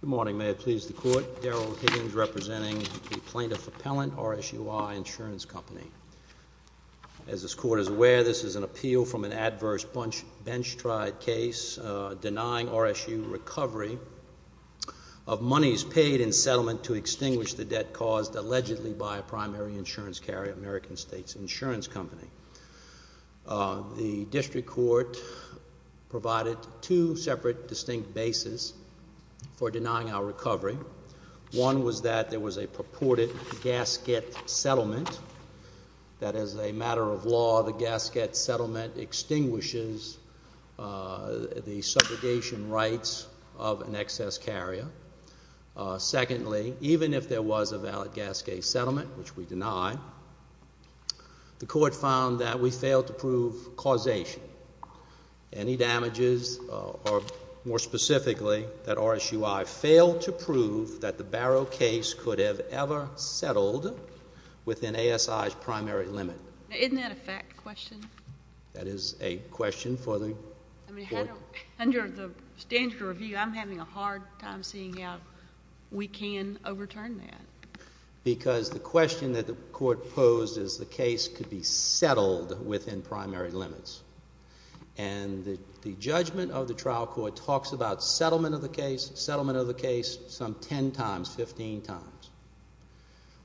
Good morning. May it please the Court. Daryl Higgins representing the Plaintiff Appellant, RSUI Insurance Company. As this Court is aware, this is an appeal from an adverse bench-tried case denying RSU recovery of monies paid in settlement to extinguish the debt caused allegedly by a primary insurance carrier, American States Insurance Company. The District Court provided two separate distinct bases for denying our recovery. One was that there was a purported gasket settlement, that as a matter of law, the gasket settlement extinguishes the subrogation rights of an excess carrier. Secondly, even if there was a valid gasket settlement, which we deny, the Court found that we failed to prove causation. Any damages, or more specifically, that RSUI failed to prove that the Barrow case could have ever settled within ASI's primary limit. Isn't that a fact question? That is a question for the Court. Under the standard of review, I'm having a hard time seeing how we can overturn that. Because the question that the Court posed is the case could be settled within primary limits. And the judgment of the trial court talks about settlement of the case, settlement of the case some 10 times, 15 times.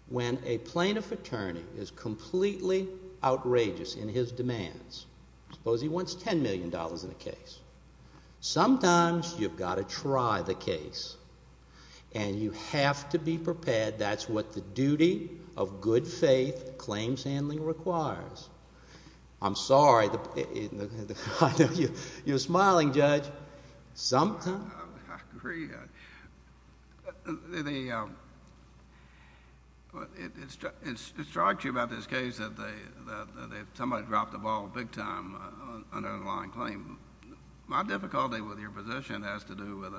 When a plaintiff attorney is completely outrageous in his demands, suppose he wants $10 million in a case, sometimes you've got to try the case. And you have to be prepared. That's what the duty of good faith claims handling requires. I'm sorry. You're smiling, Judge. I agree. It strikes you about this case that somebody dropped the ball big time on an underlying claim. My difficulty with your position has to do with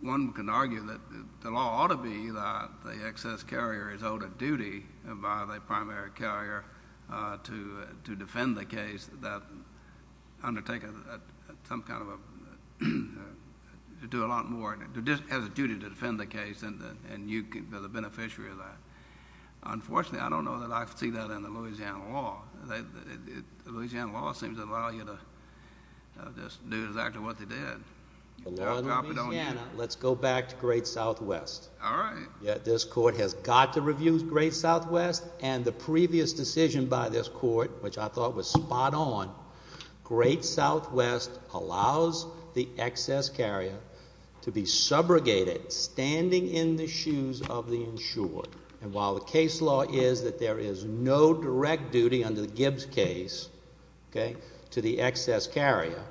one can argue that the law ought to be that the excess carrier is owed a duty by the primary carrier to defend the case without undertaking some kind of a to do a lot more. It has a duty to defend the case and you can be the beneficiary of that. Unfortunately, I don't know that I see that in the Louisiana law. Louisiana law seems to allow you to just do exactly what they did. In Louisiana, let's go back to Great Southwest. This Court has got to review Great Southwest and the previous decision by this Court, which I thought was spot on, Great Southwest allows the excess carrier to be subrogated standing in the shoes of the insured. And while the case law is that there is no direct duty under the Gibbs case to the excess carrier,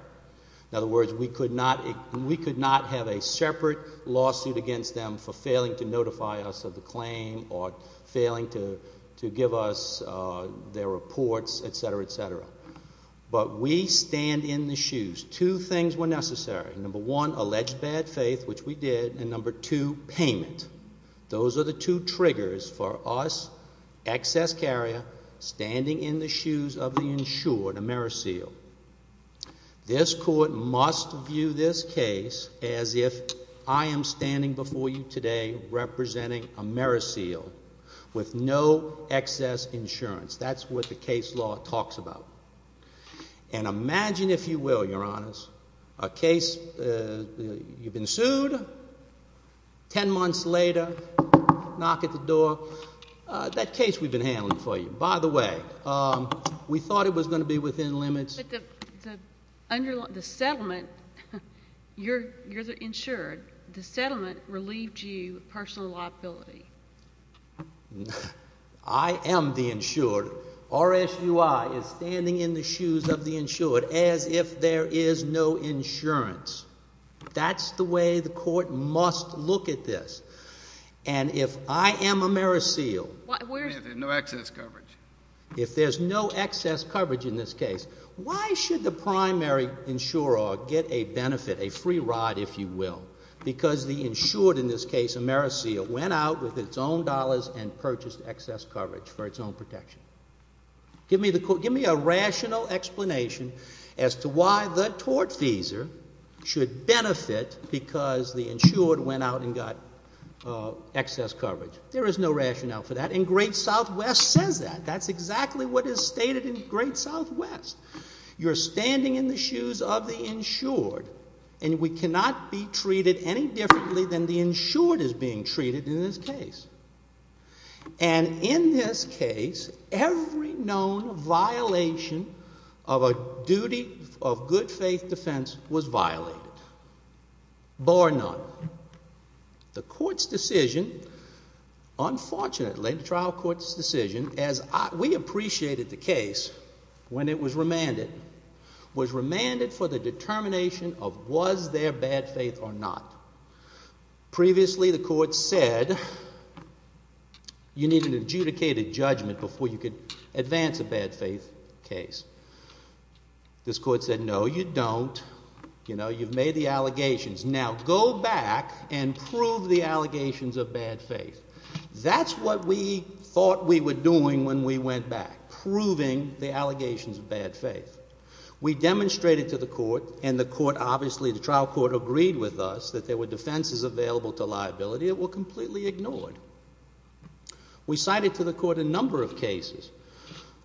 in other words, we could not have a separate lawsuit against them for failing to notify us of the claim or failing to give us their reports, etc., etc. But we stand in the shoes. Two things were necessary. Number one, alleged bad faith, which we did, and number two, payment. Those are the two triggers for us, excess carrier, standing in the shoes of the insured, a meriseal. This Court must view this case as if I am standing before you today representing a meriseal with no excess insurance. That's what the case law talks about. And imagine, if you will, Your Honors, a case, you've been sued, ten months later, knock at the door, that case we've been handling for you. By the way, we thought it was going to be within limits. But the settlement, you're the insured. The settlement relieved you of personal liability. I am the insured. RSUI is standing in the shoes of the insured as if there is no insurance. That's the way the Court must look at this. And if I am a meriseal, if there's no excess coverage in this case, why should the primary insurer get a benefit, a free ride, if you will? Because the insured in this case, a meriseal, went out with its own dollars and purchased excess coverage for its own protection. Give me a rational explanation as to why the tortfeasor should benefit because the insured went out and got excess coverage. There is no rationale for that. And Great Southwest says that. That's exactly what is stated in Great Southwest. You're standing in the shoes of the insured, and we cannot be treated any differently than the insured is being treated in this case. And in this case, every known violation of a duty of good faith defense was violated, bar none. The Court's decision, unfortunately, the trial court's decision, as we appreciated the case when it was remanded, was remanded for the determination of was there bad faith or not. Previously, the Court said you need an adjudicated judgment before you can advance a bad faith case. This Court said, no, you don't. You've made the allegations. Now, go back and prove the allegations of bad faith. That's what we thought we were doing when we went back, proving the allegations of bad faith. We demonstrated to the Court, and the Court obviously, the trial court agreed with us that there were defenses available to liability that were completely ignored. We cited to the Court a number of cases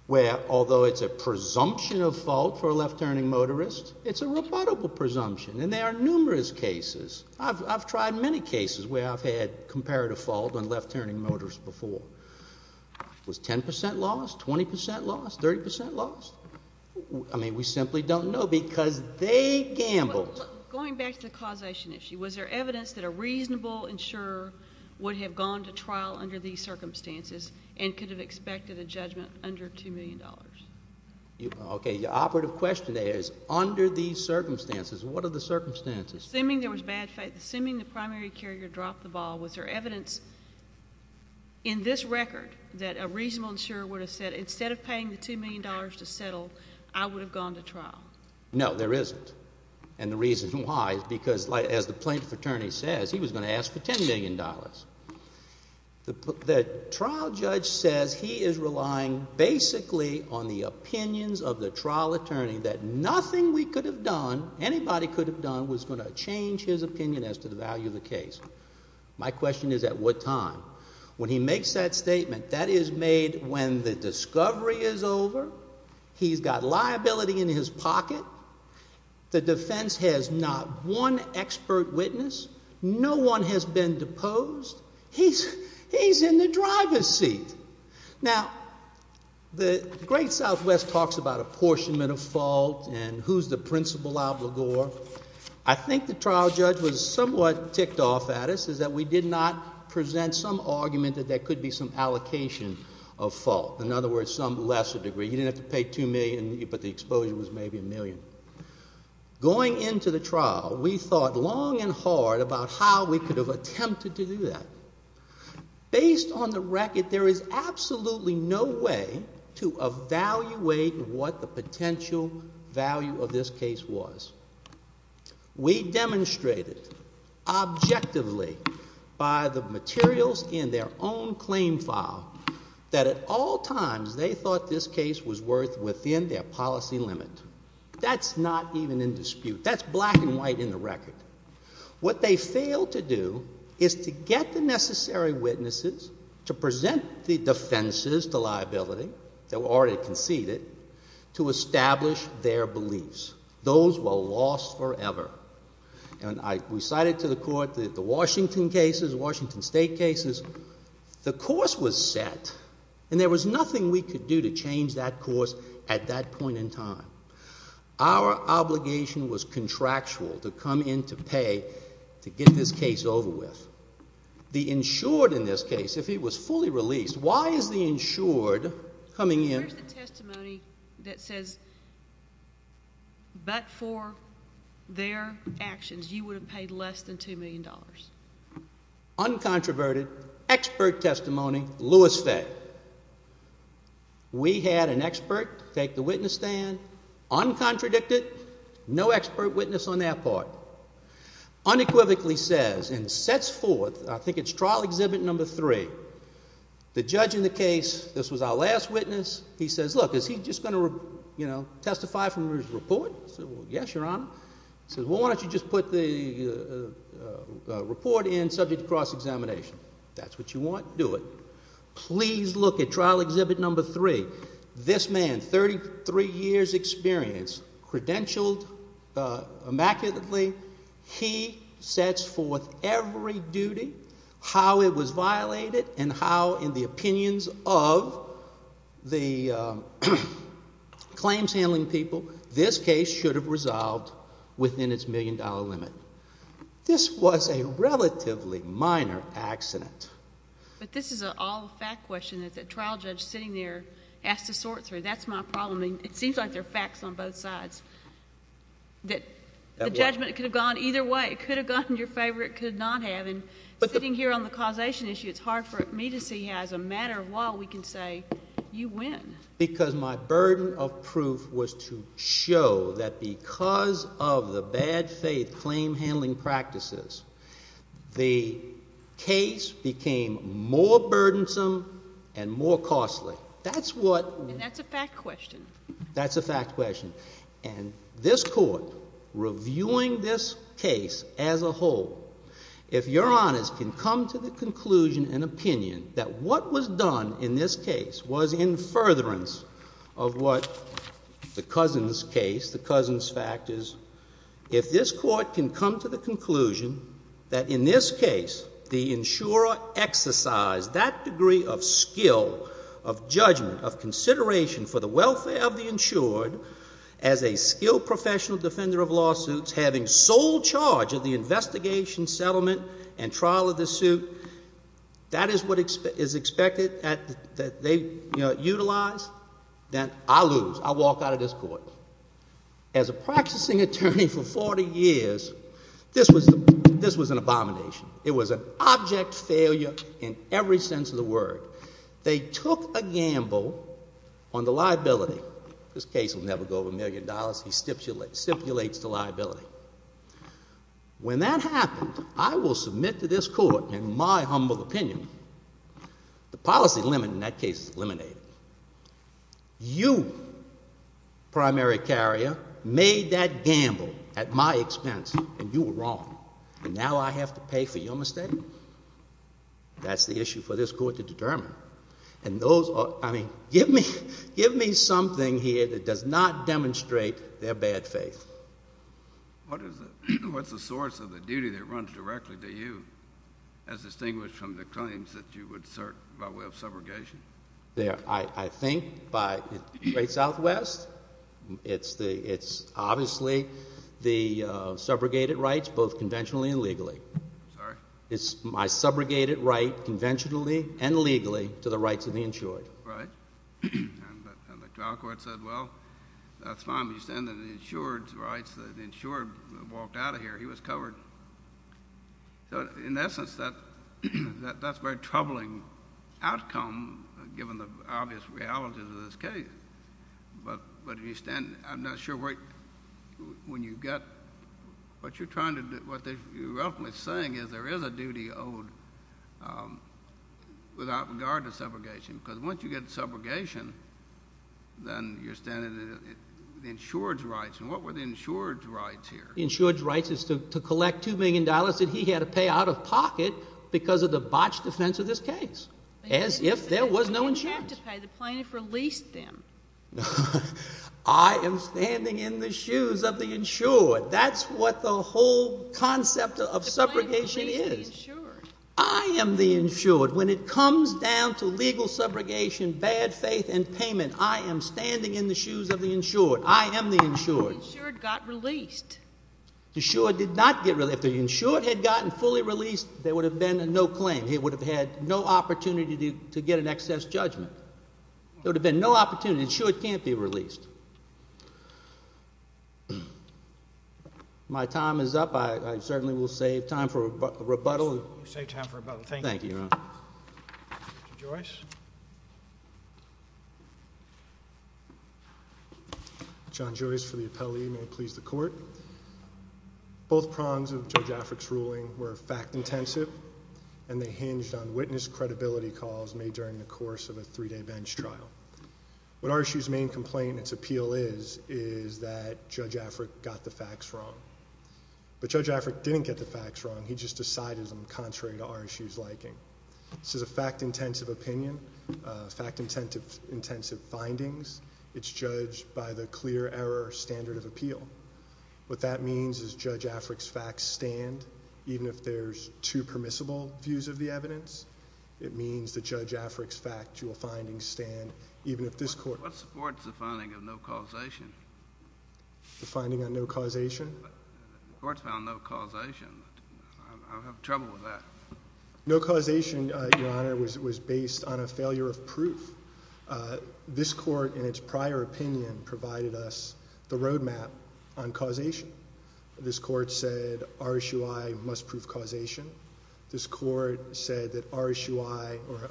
where, although it's a presumption of fault for a left-turning motorist, it's a rebuttable presumption. And there are numerous cases. I've tried many cases where I've had comparative fault on left-turning motorists before. Was 10% lost? 20% lost? 30% lost? I mean, we simply don't know, because they gambled. Going back to the causation issue, was there evidence that a reasonable insurer would have gone to trial under these circumstances and could have expected a judgment under $2 million? Okay, the operative question there is, under these circumstances, what are the circumstances? Assuming there was bad faith, assuming the primary carrier dropped the ball, was there evidence in this record that a reasonable insurer would have said, instead of paying the $2 million to settle, I would have gone to trial? No, there isn't. And the reason why is because, as the plaintiff attorney says, he was going to ask for $10 million. The trial judge says he is relying basically on the opinions of the trial attorney that nothing we could have done, anybody could have done, was going to change his opinion as to the value of the case. My question is, at what time? When he makes that statement, that is made when the discovery is over. He's got liability in his pocket. The defense has not one expert witness. No one has been deposed. He's in the driver's seat. Now, the Great Southwest talks about apportionment of fault, and who's the principal obligor. I think the trial judge was somewhat ticked off at us, is that we did not present some argument that there could be some allocation of fault. In other words, some lesser degree. You didn't have to pay $2 million, but the exposure was maybe $1 million. Going into the trial, we thought long and hard about how we could have attempted to do that. Based on the record, there is absolutely no way to evaluate what the potential value of this case was. We demonstrated, objectively, by the materials in their own claim file, that at all times, they thought this case was worth within their policy limit. That's not even in dispute. That's black and white in the record. What they failed to do is to get the necessary witnesses to present the defenses to liability, that were already conceded, to establish their beliefs. Those were lost forever. We cited to the court the Washington cases, the Washington State cases. The course was set, and there was nothing we could do to change that course at that point in time. Our obligation was contractual to come in to pay to get this case over with. The insured, in this case, if he was fully released, why is the insured coming in? Here's the testimony that says, but for their expert testimony, Louis Fay. We had an expert take the witness stand, uncontradicted, no expert witness on their part. Unequivocally says, and sets forth, I think it's trial exhibit number three, the judge in the case, this was our last witness, he says, look, is he just going to testify from his report? I said, well, yes, your honor. He says, well, why don't you just put the report in, subject to cross-examination? If that's what you want, do it. Please look at trial exhibit number three. This man, 33 years experience, credentialed immaculately, he sets forth every duty, how it was violated, and how, in the opinions of the claims-handling people, this case should have resolved within its million-dollar limit. This was a relatively minor accident. But this is an all-fact question that the trial judge sitting there asked to sort through. That's my problem. It seems like they're facts on both sides, that the judgment could have gone either way. It could have gone in your favor, it could not have, and sitting here on the causation issue, it's hard for me to see how, as a matter of law, we can say, you win. Because my burden of proof was to show that because of the bad faith claim-handling practices, the case became more burdensome and more costly. And that's a fact question. That's a fact question. And this Court, reviewing this case as a whole, if Your Honors can come to the conclusion and opinion that what was done in this case was in furtherance of what the Cousins case, the Cousins fact is, if this Court can come to the conclusion that, in this case, the insurer exercised that degree of skill, of judgment, of consideration for the welfare of the insured as a skilled professional defender of lawsuits, having sole charge of the investigation, settlement, and trial of the suit, that is what is expected that they utilize, then I lose. I walk out of this Court. As a practicing attorney for 40 years, this was an abomination. It was an object failure in every sense of the word. They took a gamble on the liability. This case will never go over a million dollars. He stipulates the liability. When that happened, I will submit to this Court, in my humble opinion, the policy limit in that case is eliminated. You, primary carrier, made that gamble at my expense, and you were wrong. And now I have to pay for your mistake? That's the issue for this Court to determine. And those are, I mean, give me something here that does not demonstrate their bad faith. What is the source of the duty that runs directly to you, as distinguished from the claims that you would cert by way of subrogation? I think by the great Southwest, it's obviously the subrogated rights, both conventionally and legally. Sorry? It's my subrogated right, conventionally and legally, to the rights of the insured. Right. And the trial court said, well, that's fine. We stand on the insured's rights. The insured walked out of here. He was covered. In essence, that's a very troubling outcome, given the obvious realities of this case. But you stand, I'm not sure when you get, what you're trying to do, what you're roughly saying is there is a duty owed without regard to subrogation. Because once you get subrogation, then you're standing on the insured's rights. And what were the insured's rights here? The insured's rights is to collect $2 million that he had to pay out of pocket because of the botched defense of this case, as if there was no insurance. But he didn't have to pay. The plaintiff released them. I am standing in the shoes of the insured. That's what the whole concept of subrogation is. The plaintiff released the insured. I am the insured. When it comes down to legal subrogation, bad faith, and payment, I am standing in the shoes of the insured. I am the insured. If he hadn't fully released, there would have been no claim. He would have had no opportunity to get an excess judgment. There would have been no opportunity. The insured can't be released. My time is up. I certainly will save time for rebuttal. Thank you, Your Honor. Mr. Joyce. John Joyce for the appellee. May it please the Court. Both prongs of Judge Affrick's ruling were fact-intensive, and they hinged on witness credibility calls made during the course of a three-day bench trial. What RSU's main complaint and its appeal is, is that Judge Affrick got the facts wrong. But Judge Affrick didn't get the facts wrong. He just decided them contrary to RSU's liking. This is a fact-intensive opinion, fact-intensive findings. It's judged by the clear error standard of appeal. What that means is Judge Affrick's facts stand, even if there's two permissible views of the evidence. It means that Judge Affrick's factual findings stand, even if this Court— What supports the finding of no causation? The finding of no causation? The Court found no causation. I don't have trouble with that. No causation, Your Honor, was based on a failure of proof. This Court, in its prior opinion, provided us the roadmap on causation. This Court said RSUI must prove causation. This Court said that RSUI or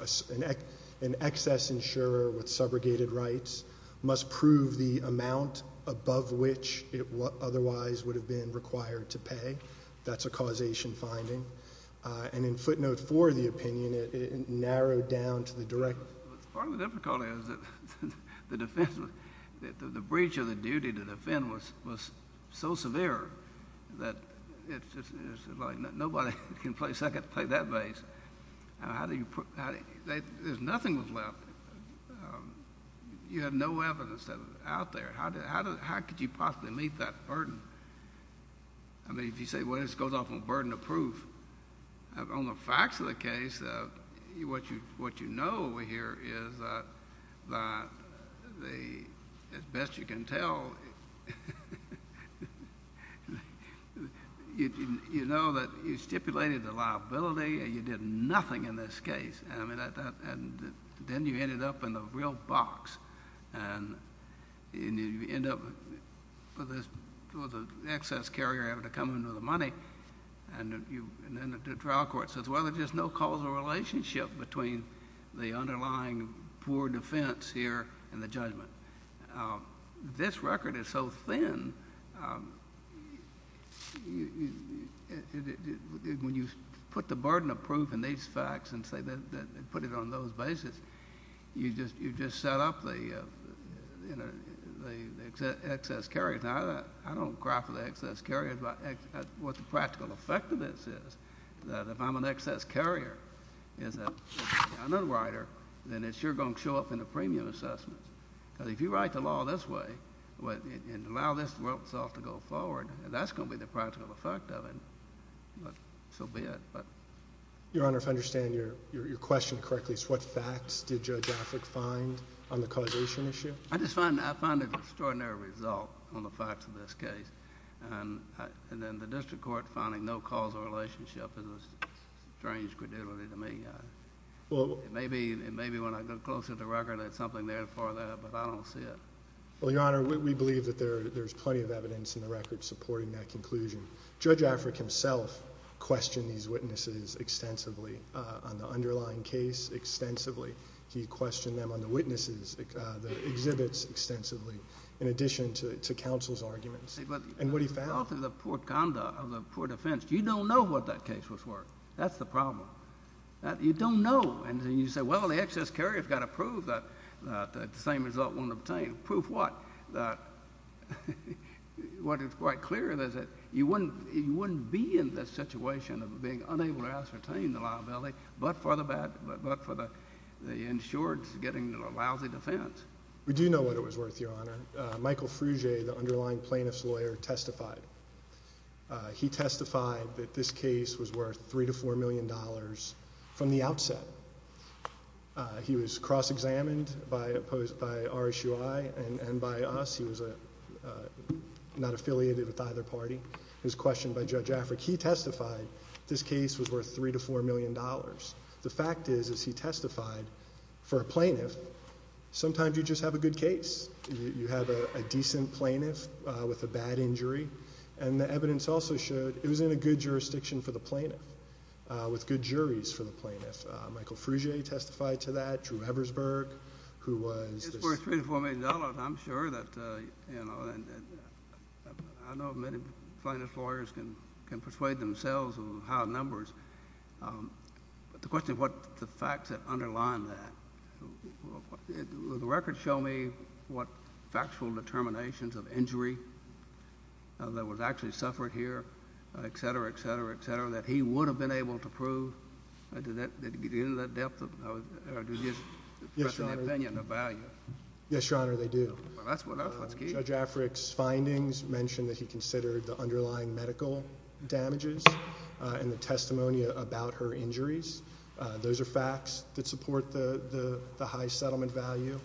an excess insurer with subrogated rights must prove the amount above which it otherwise would have been required to pay. That's a causation finding. And in footnote four of the opinion, it narrowed down to the direct— Part of the difficulty is that the breach of the duty to defend was so severe that it's just like nobody can play second to play that bass. There's nothing left. You have no evidence out there. How could you possibly meet that burden? I mean, if you say, well, this goes off on burden of proof, on the facts of the case, what you know over here is that, as best you can tell, you know that you stipulated the liability, and you did nothing in this case. Then you ended up in the real box, and you end up with the excess carrier having to come in with the money, and then the trial court says, well, there's just no causal relationship between the burden of proof and the excess carrier. It's so thin. When you put the burden of proof in these facts and put it on those bases, you just set up the excess carrier. Now, I don't cry for the excess carrier, but what the practical effect of this is, that if I'm an excess carrier, then it's sure going to show up in the premium assessment. If you write the law this way, and allow this to go forward, that's going to be the practical effect of it. So be it. Your Honor, if I understand your question correctly, what facts did Judge Affleck find on the causation issue? I just find an extraordinary result on the facts of this case. The district court finding no causal relationship is a strange credulity to me. Maybe when I go closer to the record, there's something there for that, but I don't see it. Well, Your Honor, we believe that there's plenty of evidence in the record supporting that conclusion. Judge Affleck himself questioned these witnesses extensively on the underlying case extensively. He questioned them on the witnesses, the exhibits extensively, in addition to counsel's arguments, and what he found. You don't know what that case was worth. That's the problem. You don't know. And you say, well, the excess carrier's got to prove that the same result won't obtain. Prove what? What is quite clear is that you don't know what it was worth, but for the insured getting a lousy defense. We do know what it was worth, Your Honor. Michael Frugge, the underlying plaintiff's lawyer, testified. He testified that this case was worth $3 to $4 million from the outset. He was cross-examined by RSUI and by us. He was not affiliated with either party. He was questioned by Judge Affleck. He testified this case was worth $3 to $4 million. The fact is, as he testified for a plaintiff, sometimes you just have a good case. You have a decent plaintiff with a bad injury. And the evidence also showed it was in a good jurisdiction for the plaintiff, with good juries for the plaintiff. Michael Frugge testified to that. Drew Eversberg, who was... $3 to $4 million, I'm sure that... I know many plaintiff's lawyers can persuade themselves of how numbers... But the question is, what are the facts that underline that? Will the record show me what factual determinations of injury that was actually suffered here, etc., etc., etc., that he would have been able to prove? I do not... Yes, Your Honor, they do. Judge Affleck's findings mentioned that he considered the underlying medical damages and the testimony about her injuries. Those are facts that support the high settlement value.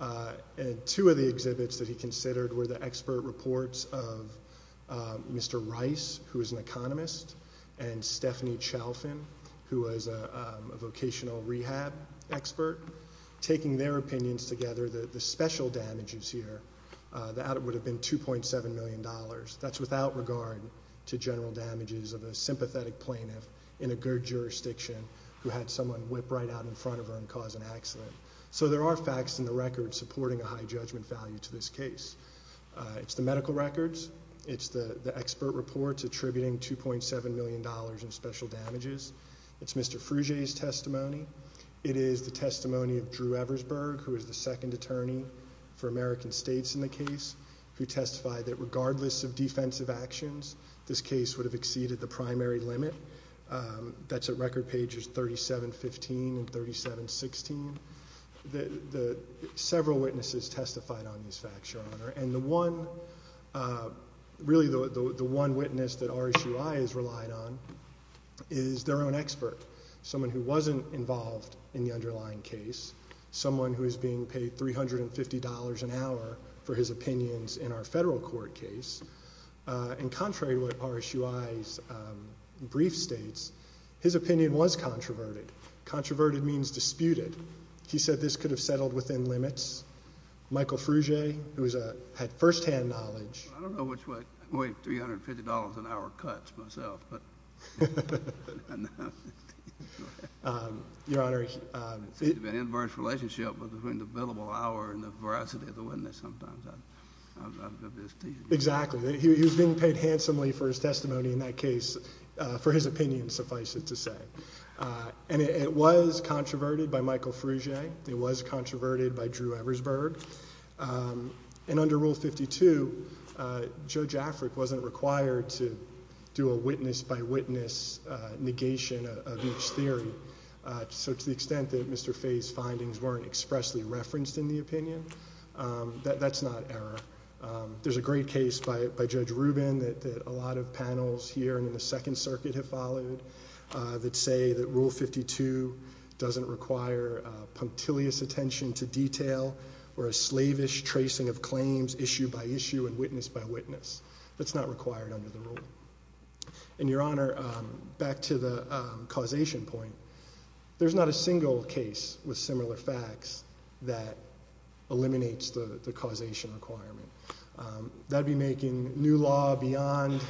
And two of the exhibits that he considered were the expert reports of Mr. Rice, who is an economist, and Stephanie Chalfin, who was a vocational rehab expert. Taking their opinions together, the special damages here, that would have been $2.7 million. That's without regard to general damages of a sympathetic plaintiff in a good jurisdiction who had someone whip right out in front of her and cause an accident. So there are facts in the record supporting a high judgment value to this case. It's the medical records. It's the expert reports attributing $2.7 million in special damages. It's Mr. Fruge's testimony. It is the testimony of Drew Eversberg, who is the second attorney for American States in the case, who testified that regardless of defensive actions, this case would have exceeded the primary limit. That's at record pages 3715 and 3716. Several witnesses testified on these facts, Your Honor. Really, the one witness that RSUI has relied on is their own expert, someone who wasn't involved in the underlying case, someone who is being paid $350 an hour for his opinions in our two states. His opinion was controverted. Controverted means disputed. He said this could have settled within limits. Michael Fruge, who had firsthand knowledge... I don't know which way $350 an hour cuts myself, but... Your Honor... It's an inverse relationship between the billable hour and the veracity of the witness sometimes. Exactly. He was being paid handsomely for his testimony in that case for his opinion, suffice it to say. And it was controverted by Michael Fruge. It was controverted by Drew Eversberg. And under Rule 52, Judge Afric wasn't required to do a witness-by-witness negation of each theory. So to the extent that Mr. Fay's findings weren't expressly referenced in the opinion, that's not error. There's a great case by Judge Rubin that a lot of panels here in the Second Circuit have followed that say that Rule 52 doesn't require punctilious attention to detail or a slavish tracing of claims issue-by-issue and witness-by-witness. That's not required under the rule. And Your Honor, back to the causation point, there's not a single case with similar facts that eliminates the causation requirement. That would be making new law beyond,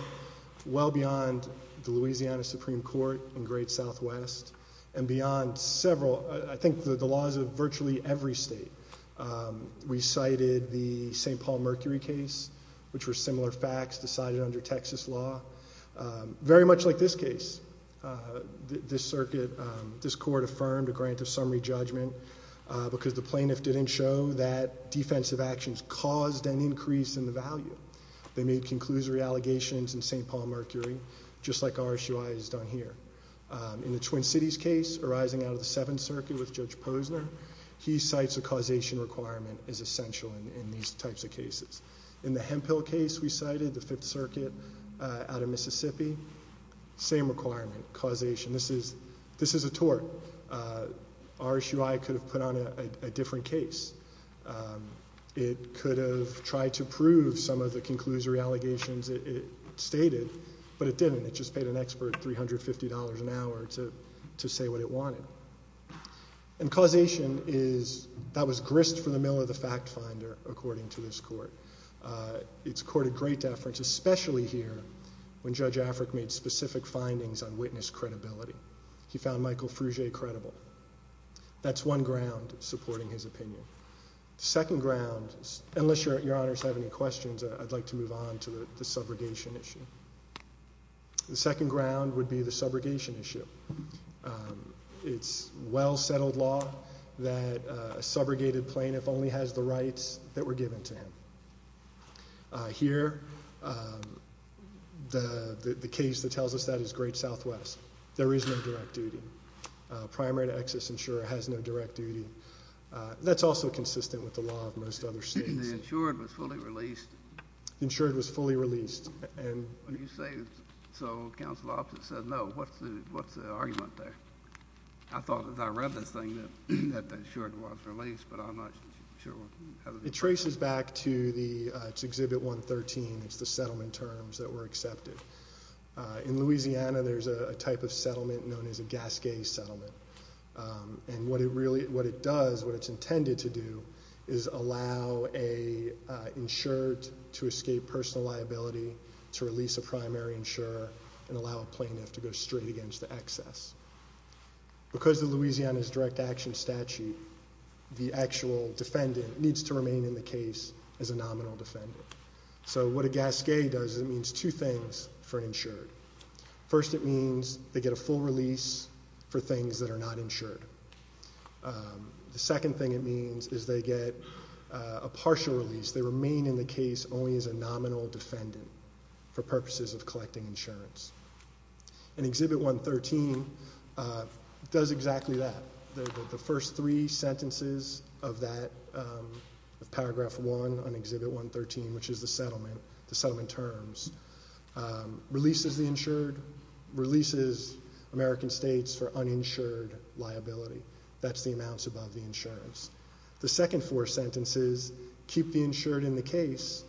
well beyond the Louisiana Supreme Court in Great Southwest and beyond several, I think the laws of virtually every state. We cited the St. Paul Mercury case, which were similar facts decided under Texas law. Very much like this case, this circuit, this court affirmed a grant of summary judgment because the plaintiff didn't show that defensive actions caused an increase in the value. They made conclusory allegations in St. Paul Mercury, just like RSUI has done here. In the Twin Cities case arising out of the Seventh Circuit with Judge Posner, he cites a causation requirement as essential in these types of cases. In the Hemphill case we cited, the Fifth Circuit out of Mississippi, same requirement, causation. This is a tort. RSUI could have put on a different case. It could have tried to prove some of the conclusory allegations it stated, but it didn't. It just paid an expert $350 an hour to say what it wanted. And causation is, that was grist for the mill of the fact finder according to this court. It's courted great deference, especially here when Judge Afric made specific findings on witness credibility. He found Michael Fruget credible. That's one ground supporting his opinion. Second ground, unless your honors have any questions, I'd like to move on to the subrogation issue. The second ground would be the subrogation issue. It's well settled law that a subrogated plaintiff only has the rights that were given to him. Here, the case that tells us that is Great Southwest. There is no direct duty. Primary to excess insurer has no direct duty. That's also consistent with the law of most other states. The insured was fully released? The insured was fully released. When you say, so counsel officer said no, what's the argument there? I thought as I read this thing that the insured was released, but I'm not sure. It traces back to the, it's Exhibit 113. It's the settlement terms that were accepted. In Louisiana, there's a type of settlement known as a Gascay settlement. What it does, what it's intended to do is allow an insured to escape personal liability to release a primary insurer and allow a plaintiff to go straight against the excess. Because of Louisiana's direct action statute, the actual defendant needs to remain in the case as a nominal defendant. What a Gascay does is it means two things for an insured. First, it means they get a full release for things that are not insured. The second thing it means is they get a partial release. They remain in the case only as a nominal defendant for purposes of collecting insurance. Exhibit 113 does exactly that. The first three sentences of that, of Paragraph 1 on Exhibit 113, which is the settlement, the settlement terms, releases the insured, releases American States for uninsured liability. That's the amounts above the insurance. The second four sentences keep the insured in the case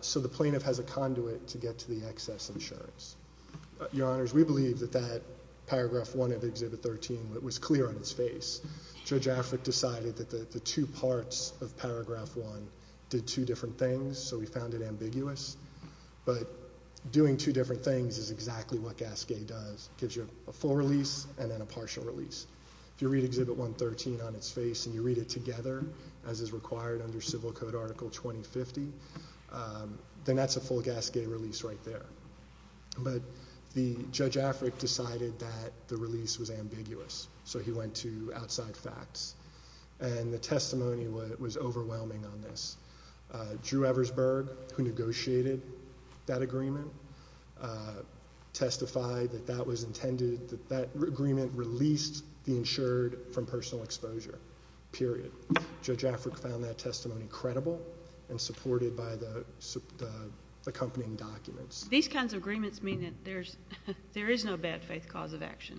so the plaintiff has a conduit to get to the excess insurance. Your Honors, we believe that that Paragraph 1 of Exhibit 13 was clear on its face. Judge Affleck decided that the two parts of Paragraph 1 did two different things so we found it ambiguous. But doing two different things is exactly what Gascay does. It gives you a full release and then a partial release. If you read Exhibit 113 on its face and you read it together as is required under Civil Code Article 2050, then that's a full Gascay release right there. But Judge Affleck decided that the release was ambiguous so he went to outside facts and the testimony was overwhelming on this. Drew Eversberg, who negotiated that agreement, testified that that was intended, that agreement released the insured from personal exposure, period. Judge Affleck found that testimony credible and supported by the accompanying documents. These kinds of agreements mean that there is no bad faith cause of action.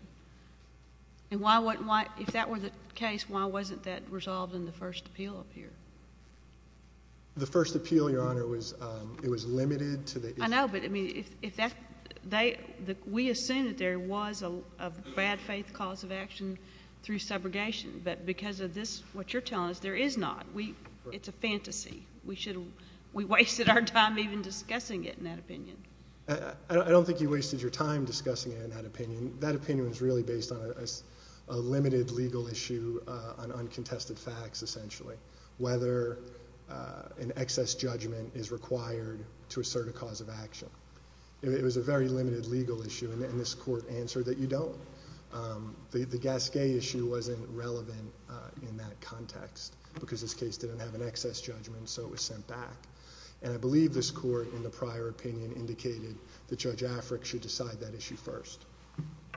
If that were the case, why wasn't that resolved in the first appeal up here? The first appeal, Your Honor, it was limited to the issue. I know, but we assume that there was a bad faith cause of action through segregation, but because of this, what you're telling us, there is not. It's a fantasy. We wasted our time even discussing it in that opinion. I don't think you wasted your time discussing it in that opinion. That opinion was really based on a limited legal issue on uncontested facts, essentially. Whether an excess judgment is required to assert a cause of action. It was a very limited legal issue and this court answered that you don't. The Gasquet issue wasn't relevant in that context because this case didn't have an excess judgment so it was sent back. I believe this court in the prior opinion indicated that Judge Affleck should decide that issue first.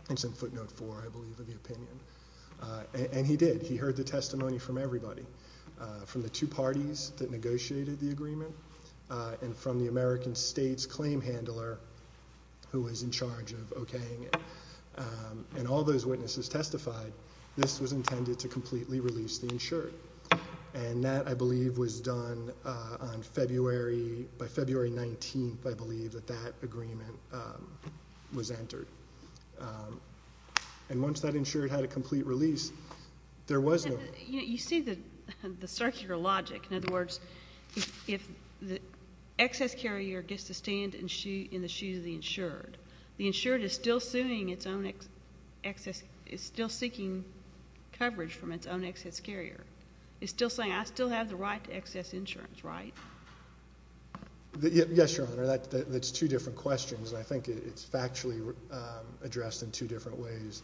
It's in footnote four, I believe, of the opinion. He did. He heard the testimony from everybody. From the two parties that negotiated the agreement and from the American States claim handler who was in charge of okaying it. All those witnesses testified this was intended to completely release the insured. That, I believe, was done by February 19th, I believe that that agreement was entered. Once that insured had a complete release, there was no... You see the circular logic. In other words, if the excess carrier gets to stand in the shoes of the insured, the insured is still suing its own excess, is still seeking coverage from its own excess carrier. It's still saying I still have the right to excess insurance, right? Yes, Your Honor. That's two different questions. I think it's factually addressed in two different ways.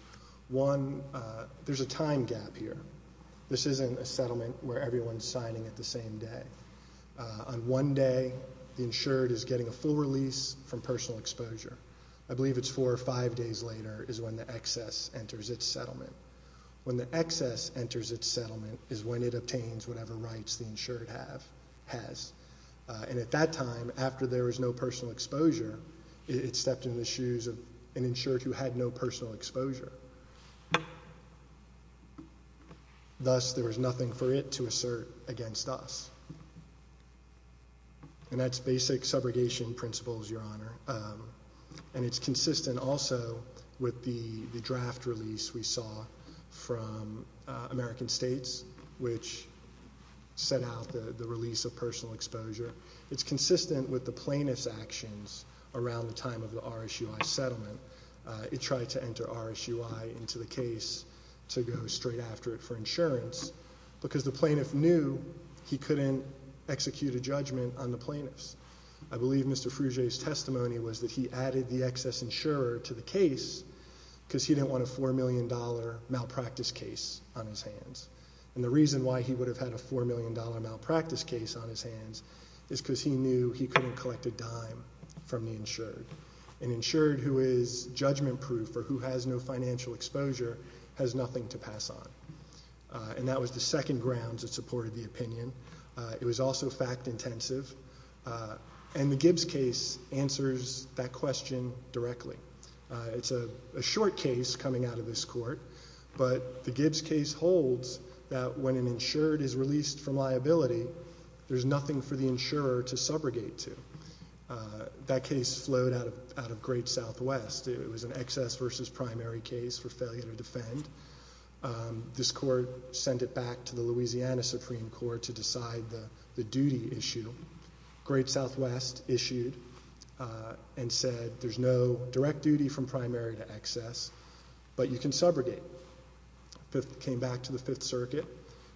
One, there's a time gap here. This isn't a settlement where everyone's signing at the same day. On one day, the insured is getting a full release from personal exposure. I believe it's four or five days later is when the excess enters its settlement. When the excess enters its settlement is when it obtains whatever rights the insured has. At that time, after there was no personal exposure, it stepped in the shoes of an insured who had no personal exposure. Thus, there was nothing for it to assert against us. That's basic subrogation principles, Your Honor. It's consistent also with the draft release we saw from American States, which set out the release of personal exposure. It's consistent with the plaintiff's actions around the time of the RSUI settlement. It tried to enter RSUI into the case to go straight after it for insurance because the plaintiff knew he couldn't execute a judgment on the plaintiffs. I believe Mr. Fruge's testimony was that he added the excess insurer to the case because he didn't want a $4 million malpractice case on his hands. The reason why he would have had a $4 million malpractice case on his hands is because he knew he couldn't collect a dime from the insured. An insured who is judgment-proof or who has no financial exposure has nothing to pass on. That was the second grounds that supported the opinion. It was also fact-intensive. The Gibbs case answers that question directly. It's a short case coming out of this court, but the Gibbs case holds that when an insured is released from liability, there's nothing for the insurer to subrogate to. That case flowed out of Great Southwest. It was an excess versus primary case for failure to defend. This court sent it back to the Louisiana Supreme Court to decide the duty issue. Great Southwest issued and said there's no direct duty from primary to excess, but you can subrogate. It came back to the Fifth Circuit.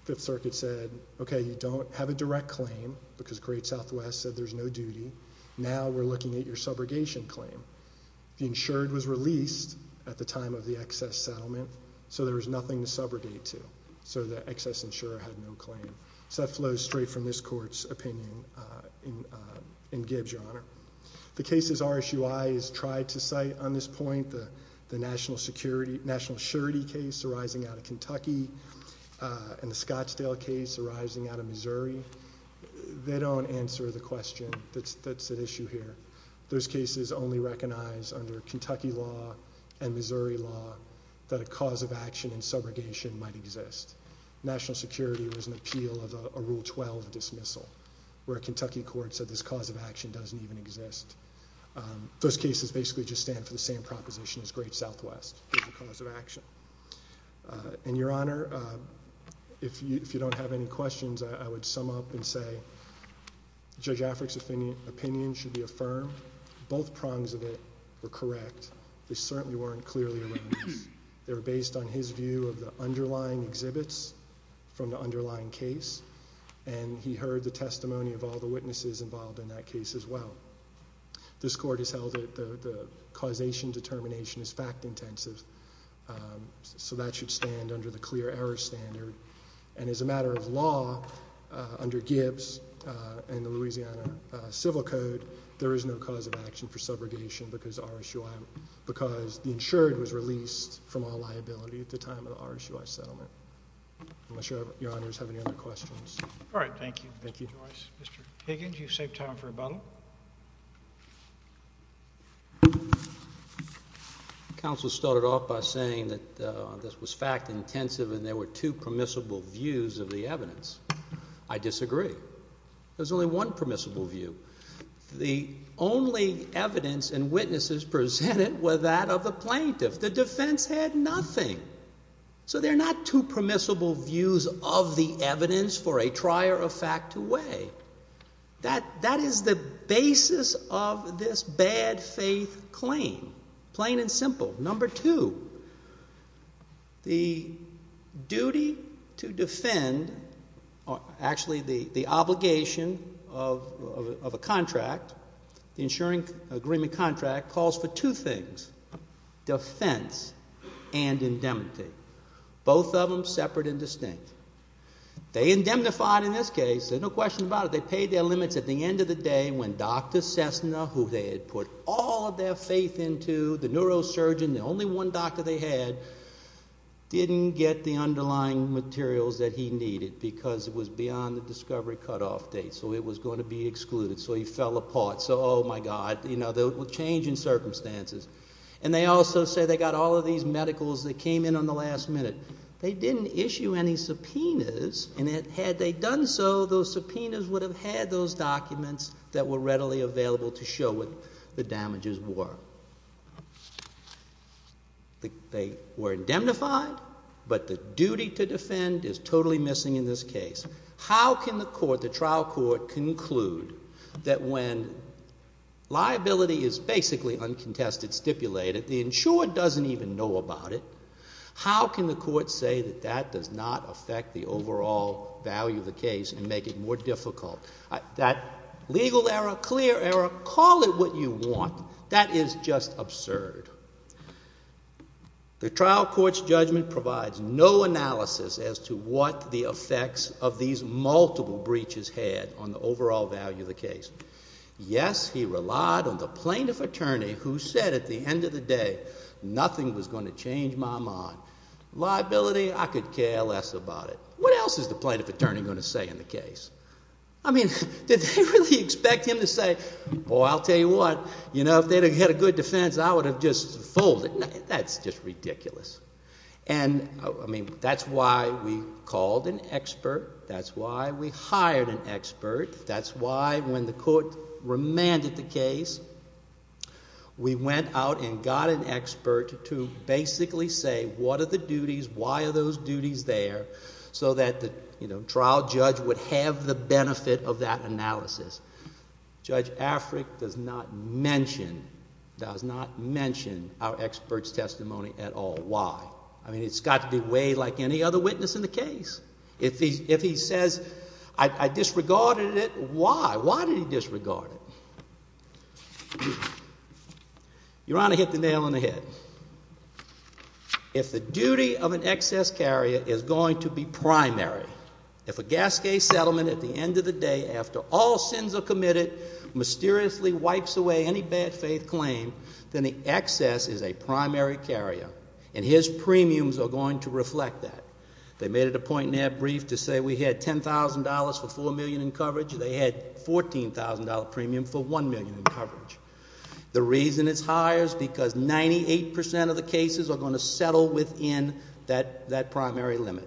Fifth Circuit said, okay, you don't have a direct claim because Great Southwest said there's no duty. Now we're looking at your subrogation claim. The insured was released at the time of the excess settlement, so there was nothing to subrogate to. The excess insurer had no claim. That flows straight from this court's opinion in Gibbs, Your Honor. The cases RSUI has tried to cite on this point, the National Security case arising out of Kentucky and the Scottsdale case arising out of Missouri, they don't answer the question that's at issue here. Those cases only recognize under Kentucky law and Missouri law that a cause of action in subrogation might exist. National Security was an appeal of a Rule 12 dismissal where a Kentucky court said this cause of action doesn't even exist. Those cases basically just stand for the same proposition as Great Southwest is the cause of action. Your Honor, if you don't have any questions, I would sum up and say Judge Africk's opinion should be affirmed. Both prongs of it were correct. They certainly weren't clearly erroneous. They were based on his view of the underlying exhibits from the underlying case, and he heard the testimony of all the witnesses involved in that case as well. This court has held that the causation determination is fact intensive, so that should stand under the clear error standard. As a matter of law, under Gibbs and the Louisiana Civil Code, there is no cause of action for subrogation because the insured was released from all liability at the time of the RSUI settlement. I'm not sure Your Honors have any other questions. All right. Thank you, Judge Joyce. Mr. Higgins, you've saved time for a button. Counsel started off by saying that this was fact intensive and there were two permissible views of the evidence. I disagree. There's only one permissible view. The only evidence and witnesses presented were that of the plaintiff. The defense had nothing. So there are not two permissible views of the evidence for a trier of fact to weigh. That is the basis of this bad faith claim, plain and simple. Number two, the duty to a contract, the insuring agreement contract, calls for two things, defense and indemnity. Both of them separate and distinct. They indemnified in this case. There's no question about it. They paid their limits at the end of the day when Dr. Cessna, who they had put all of their faith into, the neurosurgeon, the only one doctor they had, didn't get the underlying materials that he needed because it was beyond the discovery cutoff date. So it was going to be excluded. So he fell apart. So, oh my God, you know, the change in circumstances. And they also said they got all of these medicals that came in on the last minute. They didn't issue any subpoenas and had they done so, those subpoenas would have had those documents that were readily available to show what the damages were. They were indemnified, but the duty to defend is totally missing in this case. How can the trial court conclude that when liability is basically uncontested, stipulated, the insurer doesn't even know about it? How can the court say that that does not affect the overall value of the case and make it more difficult? That legal error, clear error, call it what you want, that is just absurd. The trial court's judgment provides no analysis as to what the effects of these multiple breaches had on the overall value of the case. Yes, he relied on the plaintiff attorney who said at the end of the day, nothing was going to change my mind. Liability, I could care less about it. What else is the plaintiff attorney going to say in the case? Did they really expect him to say, I'll tell you what, if they had a good defense, I would have just folded. That's just ridiculous. That's why we called an expert. That's why we hired an expert. That's why when the court remanded the case, we went out and got an expert to basically say what are the duties, why are those duties there, so that the trial judge would have the benefit of that analysis. Judge Afric does not mention our expert's testimony at all. Why? I mean, it's got to be way like any other witness in the case. If he says, I disregarded it, why? Why did he disregard it? Your Honor, hit the nail on the head. If the duty of an excess carrier is going to be primary, if a gas case settlement at the end of the day, after all sins are committed, mysteriously wipes away any bad faith claim, then the excess is a primary carrier. And his premiums are going to reflect that. They made it a point in their brief to say we had $10,000 for $4 million in coverage. They had $14,000 premium for $1 million in coverage. The reason it's higher is because 98% of the cases are going to settle within that primary limit.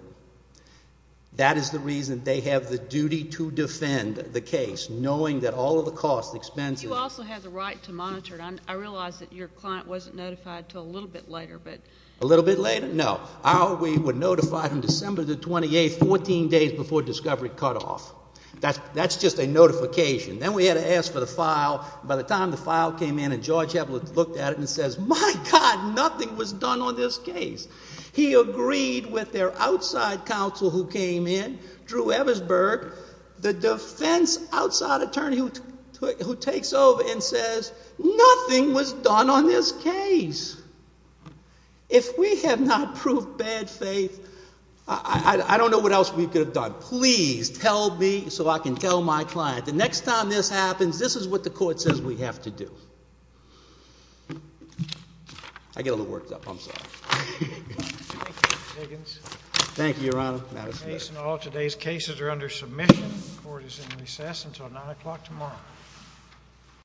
That is the reason they have the duty to defend the case, knowing that all of the costs, expenses... You also have the right to monitor it. I realize that your client wasn't notified until a little bit later, but... A little bit later? No. We were notified on December the 28th, 14 days before discovery cut off. That's just a notification. Then we had to ask for the file. By the time the file came in and George Hepler looked at it and says, my God, nothing was done on this case. He agreed with their outside counsel who came in, Drew Eversberg, the defense outside attorney who takes over and says, nothing was done on this case. If we have not proved bad faith, I don't know what else we could have done. Please tell me so I can tell my client. The next time this happens, this is what the court says we have to do. I get a little worked up. I'm sorry. Thank you, Your Honor. The case in all today's cases are under submission. The court is in recess until 9 o'clock tomorrow.